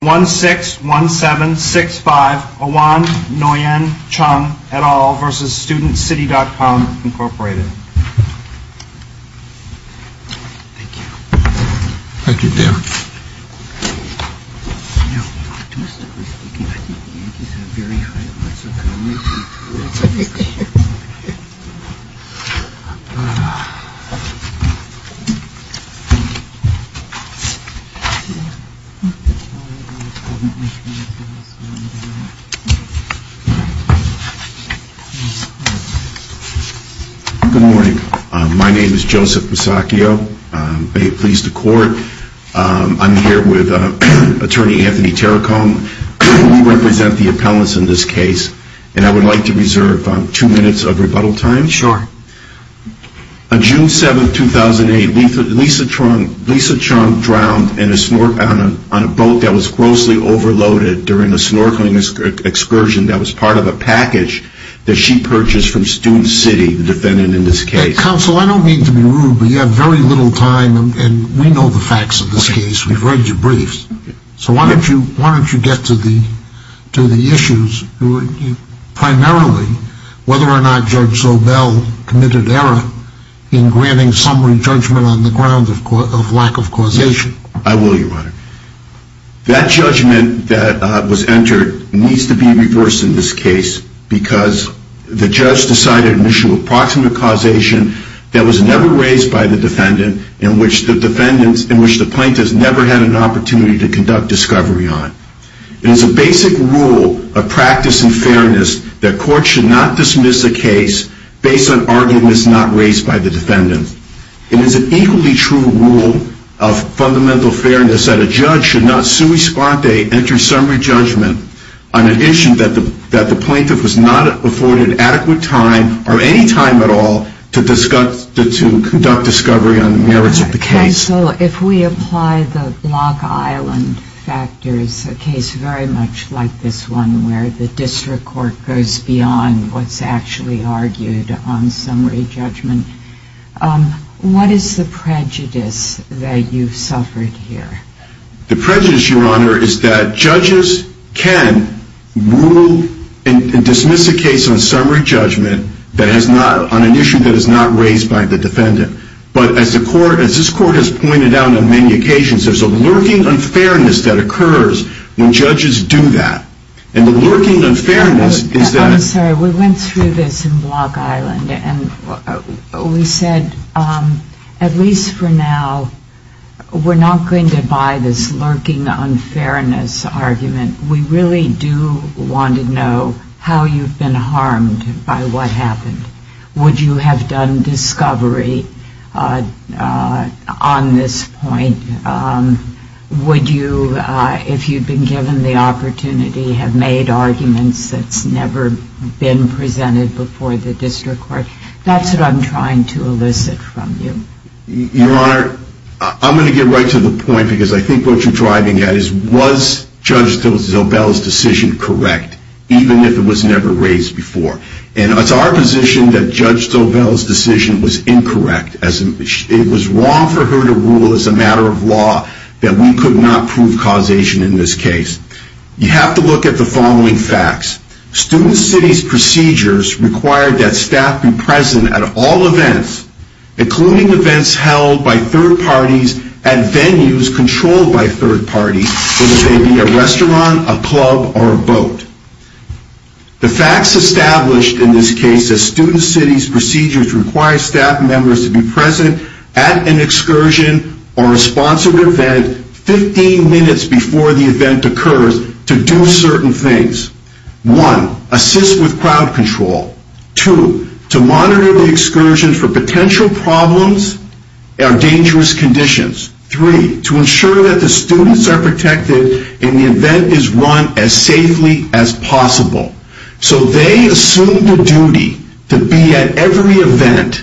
161765, Owan Nguyen Chung, et al. v. StudentCity.com, Inc. Good morning. My name is Joseph Masacchio. May it please the Court, I'm here with Attorney Anthony Terracone. We represent the appellants in this case and I would like to reserve two minutes of rebuttal time. Sure. On June 7, 2008, Lisa Chung drowned on a boat that was grossly overloaded during a snorkeling excursion that was part of a package that she purchased from Student City, the defendant in this case. Counsel, I don't mean to be rude, but you have very little time and we know the facts of this case. We've read your briefs. So why don't you get to the issues, primarily, whether or not Judge Zobel committed error in granting summary judgment on the grounds of lack of causation. I will, Your Honor. That judgment that was entered needs to be reversed in this case because the judge decided an issue of proximate causation that was never raised by the defendant, in which the plaintiff's never had an opportunity to conduct discovery on. It is a basic rule of practice and fairness that courts should not dismiss a case based on arguments not raised by the defendant. It is an equally true rule of fundamental fairness that a judge should not sui sponte enter summary judgment on an issue that the plaintiff was not afforded adequate time or any time at all to conduct discovery on the merits of the case. Counsel, if we apply the beyond what's actually argued on summary judgment, what is the prejudice that you've suffered here? The prejudice, Your Honor, is that judges can rule and dismiss a case on summary judgment that has not, on an issue that is not raised by the defendant. But as the court, as this court has pointed out on many occasions, there's a lurking unfairness that occurs when judges do that. And the lurking unfairness is that I'm sorry, we went through this in Block Island and we said, at least for now, we're not going to buy this lurking unfairness argument. We really do want to know how you've been harmed by what happened. Would you have done discovery on this point? Would you, if you'd been given the opportunity, have made arguments that's never been presented before the district court? That's what I'm trying to elicit from you. Your Honor, I'm going to get right to the point because I think what you're driving at is, was Judge Zobel's decision correct, even if it was never raised before? And it's our position that Judge Zobel's decision was incorrect. It was wrong for her to rule as a matter of law that we could not prove causation in this case. You have to look at the following facts. Student City's procedures required that staff be present at all events, including events held by third parties at venues controlled by third parties, whether they be a restaurant, a club, or a boat. The facts established in this case is Student City's procedures require staff members to be present at an excursion or a sponsored event 15 minutes before the event occurs to do certain things. One, assist with crowd control. Two, to monitor the excursion for potential problems and dangerous conditions. Three, to ensure that the students are protected and the event is run as safely as possible. So they assume the duty to be at every event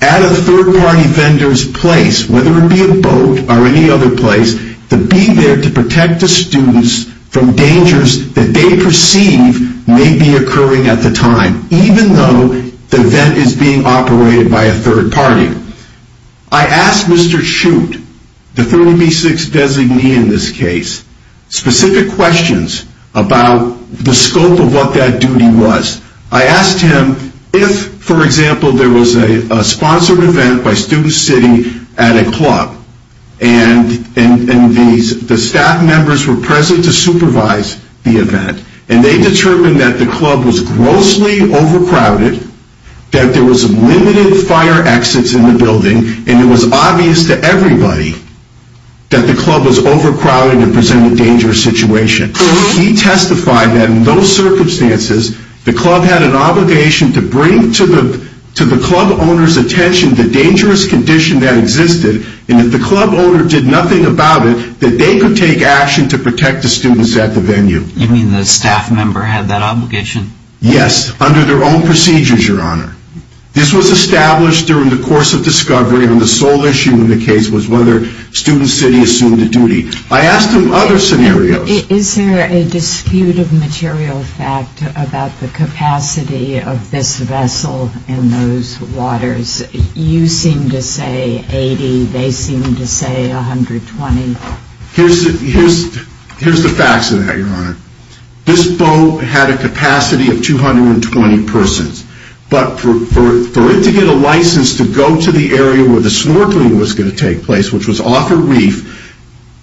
at a third party vendor's place, whether it be a boat or any other place, to be there to protect the students from dangers that they perceive may be occurring at the time, even though the event is being operated by a third party. I asked Mr. Chute, the 30B6 designee in this case, specific questions about the scope of what that duty was. I asked him if, for example, there was a sponsored event by Student City at a club, and the staff members were present to supervise the event, and they determined that the club was grossly overcrowded, that there was limited fire exits in the building, and it was obvious to everybody that the club was overcrowded and presented a dangerous situation. He testified that in those circumstances, the club had an obligation to bring to the club owner's attention the dangerous condition that existed, and if the club owner did nothing about it, that they could take action to protect the students at the venue. You mean the staff member had that obligation? Yes, under their own procedures, Your Honor. This was established during the course of discovery, and the sole issue in the case was whether Student City assumed the duty. I asked him other scenarios. Is there a dispute of material fact about the capacity of this vessel in those waters? You seem to say 80, they seem to say 120. Here's the facts of that, Your Honor. This boat had a capacity of 220 persons, but for it to get a license to go to the area where the snorkeling was going to take place, which was off a reef,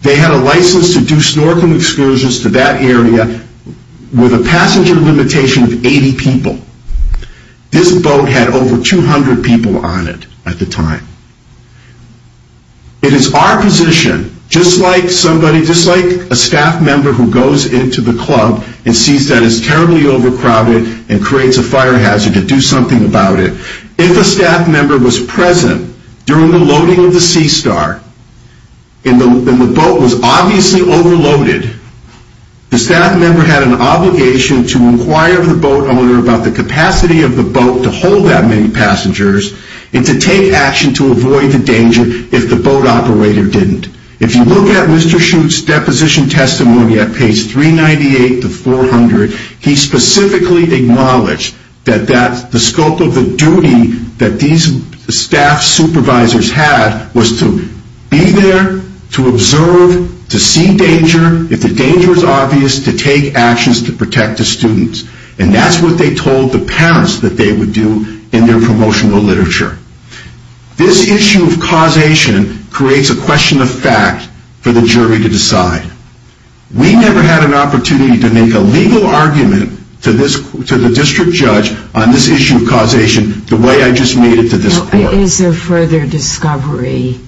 they had a license to do snorkeling excursions to that area with a passenger limitation of 80 people. This boat had over 200 people on it at the time. It is our position, just like somebody, just like a staff member who goes into the club and sees that it's terribly overcrowded and creates a fire hazard to do something about it, if a staff member was present during the loading of the Sea Star, and the boat was obviously overloaded, the staff member had an obligation to inquire the boat owner about the capacity of the boat to hold that many passengers and to take action to avoid the danger if the boat operator didn't. If you look at Mr. Shute's deposition testimony at page 398 to 400, he specifically acknowledged that the scope of the duty that these staff supervisors had was to be there, to observe, to see danger, if the danger is obvious, to take actions to protect the students. And that's what they told the parents that they would do in their promotional literature. This issue of causation creates a question of fact for the jury to decide. We never had an opportunity to make a legal argument to the district judge on this issue of causation the way I just made it to this court. Is there further discovery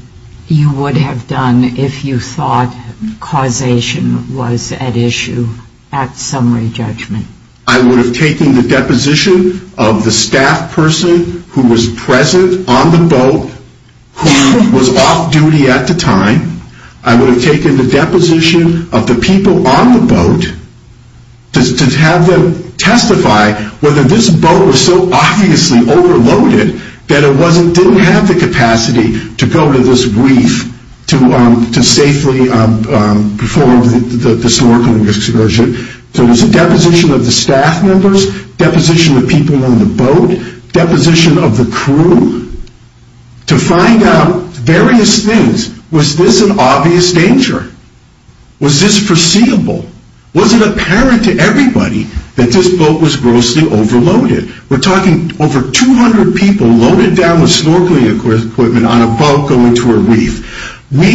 you would have done if you thought causation was at issue at summary judgment? I would have taken the deposition of the staff person who was present on the boat, who was off duty at the time. I would have taken the deposition of the people on the boat to have them testify whether this boat was so obviously overloaded that it didn't have the capacity to go to this reef to safely perform the suburban excursion. So it was a deposition of the staff members, deposition of people on the boat, deposition of the crew to find out various things. Was this an obvious danger? Was this foreseeable? Was it apparent to everybody that this boat was grossly overloaded? We're talking over 200 people loaded down with snorkeling equipment on a boat going to a reef. We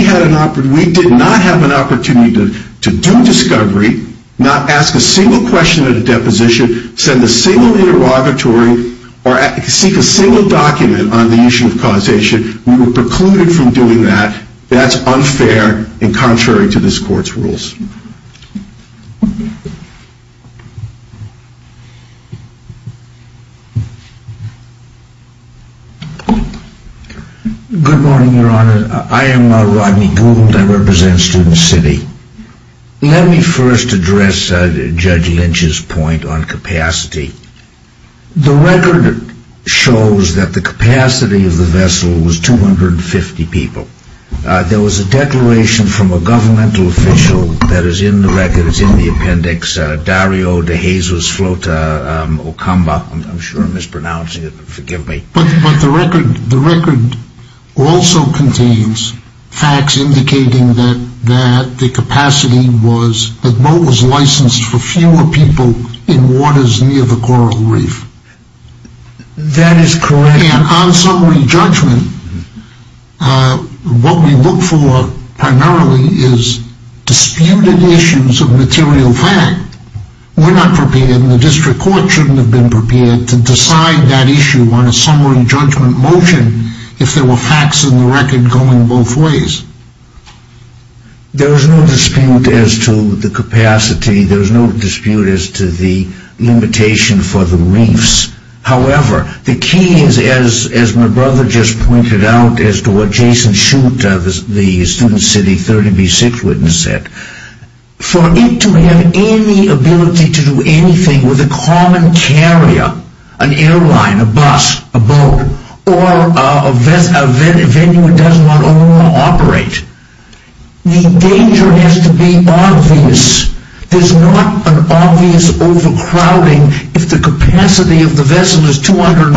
did not have an opportunity to do discovery, not ask a single question at a deposition, send a single interrogatory, or seek a single document on the issue of causation. We were precluded from doing that. That's unfair and contrary to this court's rules. Good morning, Your Honor. I am Rodney Gould. I represent Student City. Let me first address Judge Lynch's point on capacity. The record shows that the capacity of the vessel was 250 people. There was a declaration from a governmental official that is in the record, it's in the appendix, Dario de Jesus Flota Ocamba, I'm sure I'm mispronouncing it, but forgive me. But the record also contains facts indicating that the capacity was, the boat was licensed for fewer people in waters near the coral reef. That is correct. And on summary judgment, what we look for primarily is disputed issues of material fact. We're not prepared and the district court shouldn't have been prepared to decide that issue on a summary judgment motion if there were facts in the record going both ways. There is no dispute as to the capacity. There is no dispute as to the limitation for the reefs. However, the key is, as my brother just pointed out, as to what Jason Schutt, the Student City 30B6 witness said, for it to have any ability to do anything with a common carrier, an airline, a bus, a boat, or a venue it doesn't want to operate in, the danger has to be obvious. There's not an obvious overcrowding if the capacity of the vessel is 250.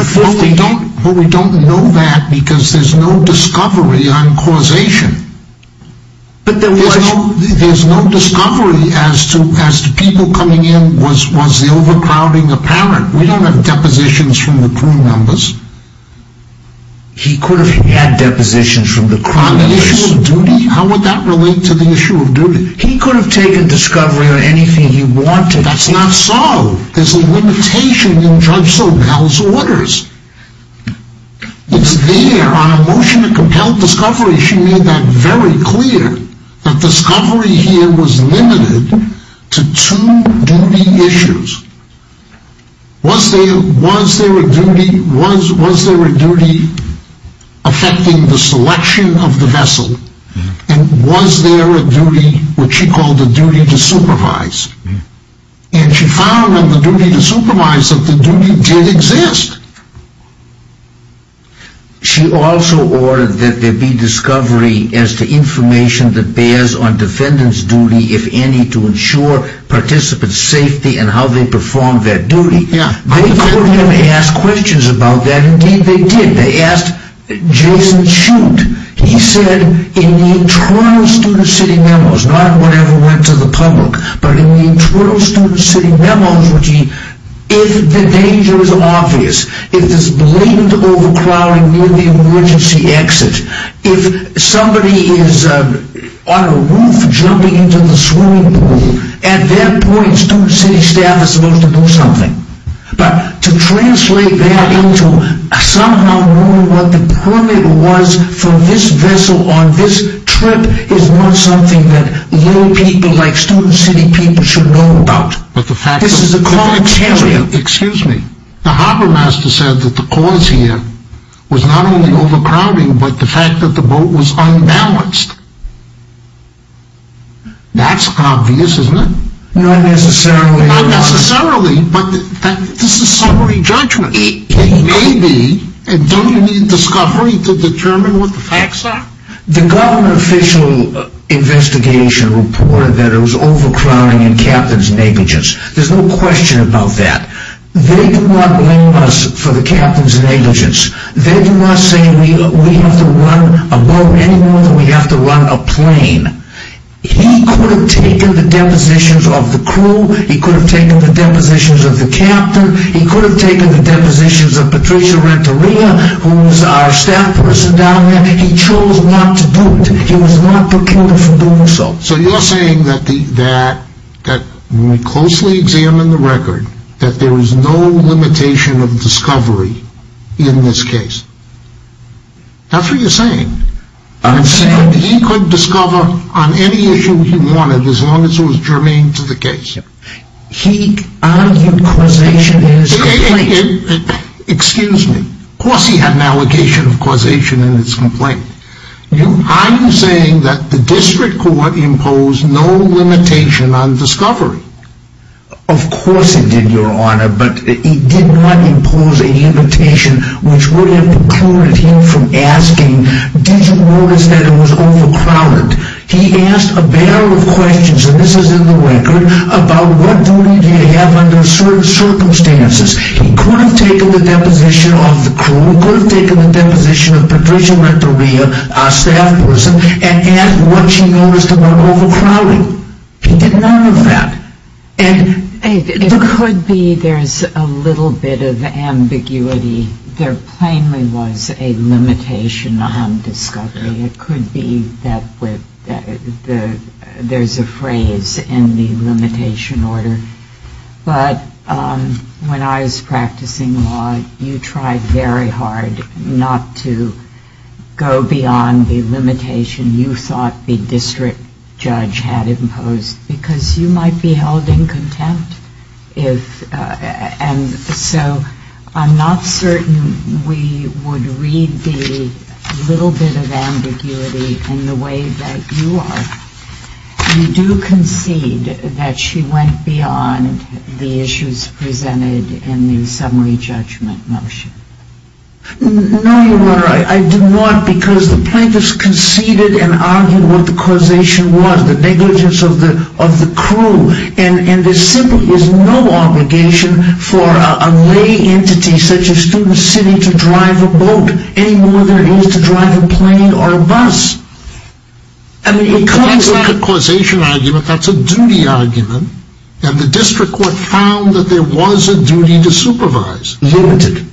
But we don't know that because there's no discovery on causation. But there was. There's no discovery as to people coming in, was the overcrowding apparent? We don't have depositions from the crew members. He could have had depositions from the crew members. On the issue of duty? How would that relate to the issue of duty? He could have taken discovery or anything he wanted. That's not so. There's a limitation in Judge Sobel's orders. It's there on a motion to compel discovery. She made that very clear. That discovery here was limited to two duty issues. Was there a duty affecting the selection of the vessel? And was there a duty, what she called a duty to supervise? And she found on the duty to supervise that the duty did exist. She also ordered that there be discovery as to information that bears on defendant's duty, if any, to ensure participant's safety and how they perform that duty. They could have asked questions about that. Indeed, they did. They asked Jason Chute. He said in the internal student city memos, not whatever went to the public, but in the internal student city memos, if the danger is obvious, if there's blatant overcrowding near the emergency exit, if somebody is on a roof jumping into the swimming pool, at that point student city staff is supposed to do something. But to translate that into somehow knowing what the permit was for this vessel on this trip is not something that little people like student city people should know about. This is a commentary. Excuse me. The harbormaster said that the cause here was not only overcrowding but the fact that the boat was unbalanced. That's obvious, isn't it? Not necessarily. Not necessarily, but this is summary judgment. It may be, and don't you need discovery to determine what the facts are? The government official investigation reported that it was overcrowding and captain's negligence. There's no question about that. They do not blame us for the captain's negligence. They do not say we have to run a boat any more than we have to run a plane. He could have taken the depositions of the crew. He could have taken the depositions of the captain. He could have taken the depositions of Patricia Renteria, who's our staff person down there. He chose not to do it. He was not procured for doing so. So you're saying that when we closely examine the record, that there is no limitation of discovery in this case? That's what you're saying. I'm saying that he could discover on any issue he wanted as long as it was germane to the case. He argued causation in his complaint. Excuse me. Of course he had an allegation of causation in his complaint. I'm saying that the district court imposed no limitation on discovery. Of course it did, Your Honor. But it did not impose a limitation which would have precluded him from asking, did you notice that it was overcrowded? He asked a barrel of questions, and this is in the record, about what duty do you have under certain circumstances. He could have taken the deposition of the crew. He could have taken the deposition of Patricia Renteria, our staff person, and asked what she noticed about overcrowding. He did none of that. It could be there's a little bit of ambiguity. There plainly was a limitation on discovery. It could be that there's a phrase in the limitation order. But when I was practicing law, you tried very hard not to go beyond the limitation you thought the district judge had imposed because you might be held in contempt. And so I'm not certain we would read the little bit of ambiguity in the way that you are. You do concede that she went beyond the issues presented in the summary judgment motion. No, Your Honor. I do not because the plaintiffs conceded and argued what the causation was, the negligence of the crew. And there simply is no obligation for a lay entity such as Student City to drive a boat any more than it is to drive a plane or a bus. That's not a causation argument. That's a duty argument. And the district court found that there was a duty to supervise. Limited.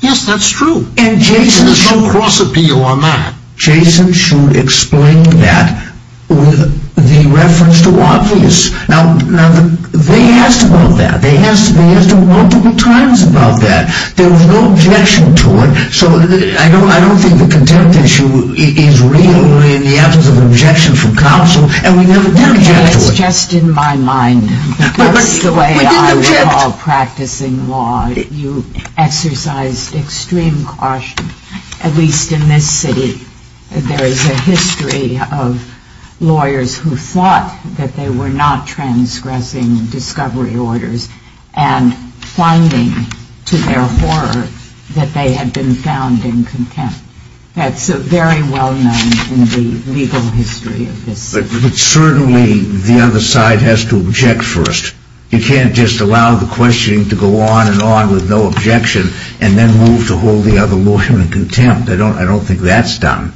Yes, that's true. There's no cross appeal on that. Jason should explain that with the reference to obvious. Now, they asked about that. They asked him multiple times about that. There was no objection to it. So I don't think the contempt issue is real in the absence of objection from counsel. And we never did object to it. It's just in my mind. That's the way I would call practicing law. You exercised extreme caution, at least in this city. There is a history of lawyers who thought that they were not transgressing discovery orders and finding to their horror that they had been found in contempt. That's very well known in the legal history of this. But certainly the other side has to object first. You can't just allow the questioning to go on and on with no objection and then move to hold the other lawyer in contempt. I don't think that's done.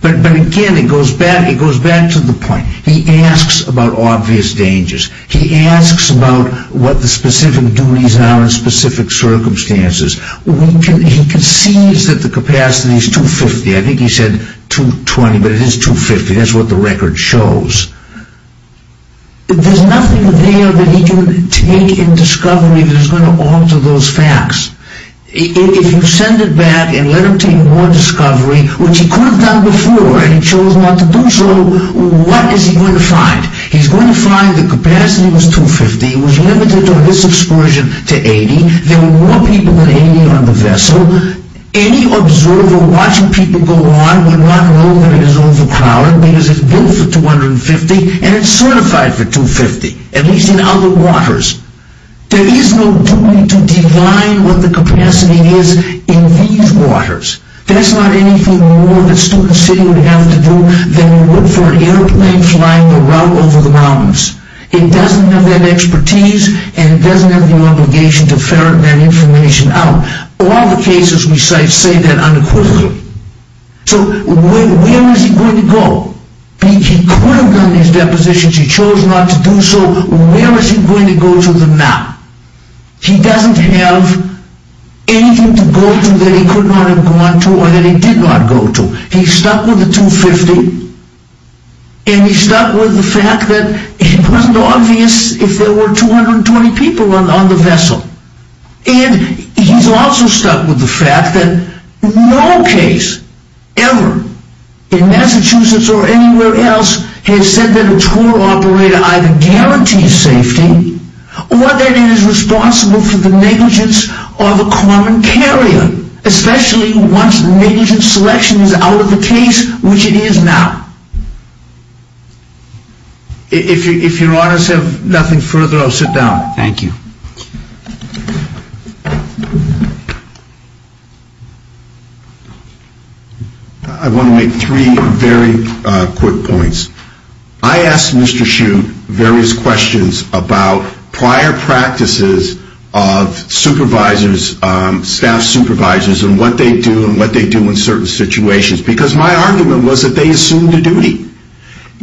But again, it goes back to the point. He asks about obvious dangers. He asks about what the specific duties are in specific circumstances. He concedes that the capacity is 250. I think he said 220, but it is 250. That's what the record shows. There's nothing there that he can take in discovery that is going to alter those facts. If you send it back and let him take more discovery, which he could have done before and he chose not to do so, what is he going to find? He's going to find the capacity was 250. It was limited on this excursion to 80. There were more people than 80 on the vessel. Any observer watching people go on would not know that it is overcrowded because it's built for 250 and it's certified for 250, at least in other waters. There is no duty to define what the capacity is in these waters. That's not anything more that Student City would have to do than look for an airplane flying over the mountains. It doesn't have that expertise and it doesn't have the obligation to ferret that information out. All the cases we cite say that unequivocally. So where is he going to go? He could have done these depositions. He chose not to do so. Where is he going to go to them now? He doesn't have anything to go to that he could not have gone to or that he did not go to. He's stuck with the 250 and he's stuck with the fact that it wasn't obvious if there were 220 people on the vessel. And he's also stuck with the fact that no case ever in Massachusetts or anywhere else has said that a tour operator either guarantees safety or that it is responsible for the negligence of a common carrier, especially once negligence selection is out of the case, which it is now. If your honors have nothing further, I'll sit down. Thank you. I want to make three very quick points. I asked Mr. Shute various questions about prior practices of supervisors, staff supervisors, and what they do and what they do in certain situations because my argument was that they assumed a duty.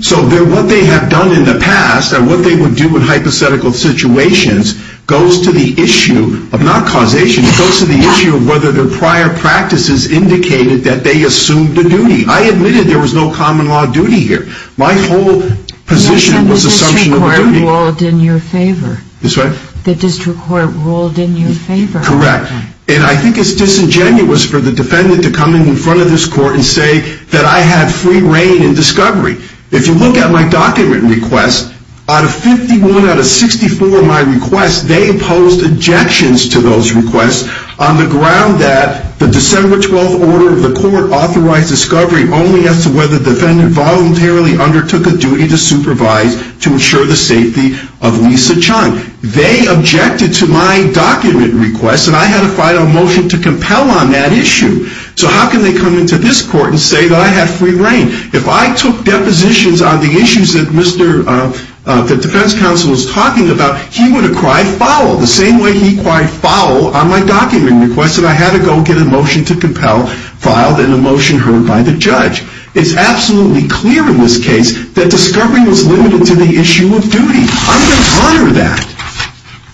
So what they have done in the past and what they would do in hypothetical situations goes to the issue of not causation, it goes to the issue of whether their prior practices indicated that they assumed a duty. I admitted there was no common law duty here. My whole position was assumption of a duty. The district court ruled in your favor. This what? The district court ruled in your favor. Correct. And I think it's disingenuous for the defendant to come in front of this court and say that I had free rein in discovery. If you look at my document request, out of 51 out of 64 of my requests, they imposed objections to those requests on the ground that the December 12th order of the court authorized discovery only as to whether the defendant voluntarily undertook a duty to supervise to ensure the safety of Lisa Chang. They objected to my document request and I had to file a motion to compel on that issue. So how can they come into this court and say that I had free rein? If I took depositions on the issues that the defense counsel was talking about, he would have cried foul the same way he cried foul on my document request and I had to go get a motion to compel, filed, and a motion heard by the judge. It's absolutely clear in this case that discovery was limited to the issue of duty. I'm going to honor that.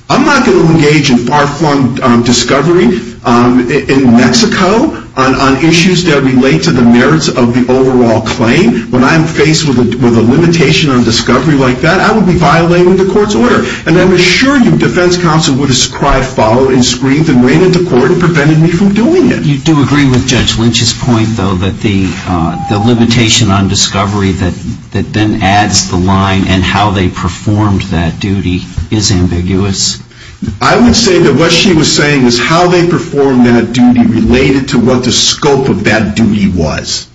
I'm not going to engage in far-flung discovery in Mexico on issues that relate to the merits of the overall claim. When I'm faced with a limitation on discovery like that, I would be violating the court's order. And I'm sure you, defense counsel, would have cried foul and screamed and ran into court and prevented me from doing it. You do agree with Judge Lynch's point, though, that the limitation on discovery that then adds the line and how they performed that duty is ambiguous? I would say that what she was saying was how they performed that duty related to what the scope of that duty was.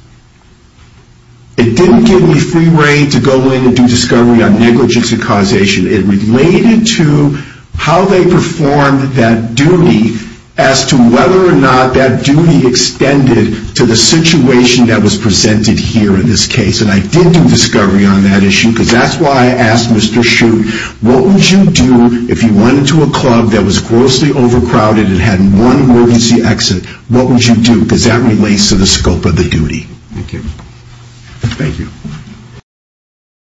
It didn't give me free rein to go in and do discovery on negligence and causation. It related to how they performed that duty as to whether or not that duty extended to the situation that was presented here in this case. And I did do discovery on that issue because that's why I asked Mr. Shute, what would you do if you went into a club that was grossly overcrowded and had one emergency exit? What would you do? Because that relates to the scope of the duty. Thank you.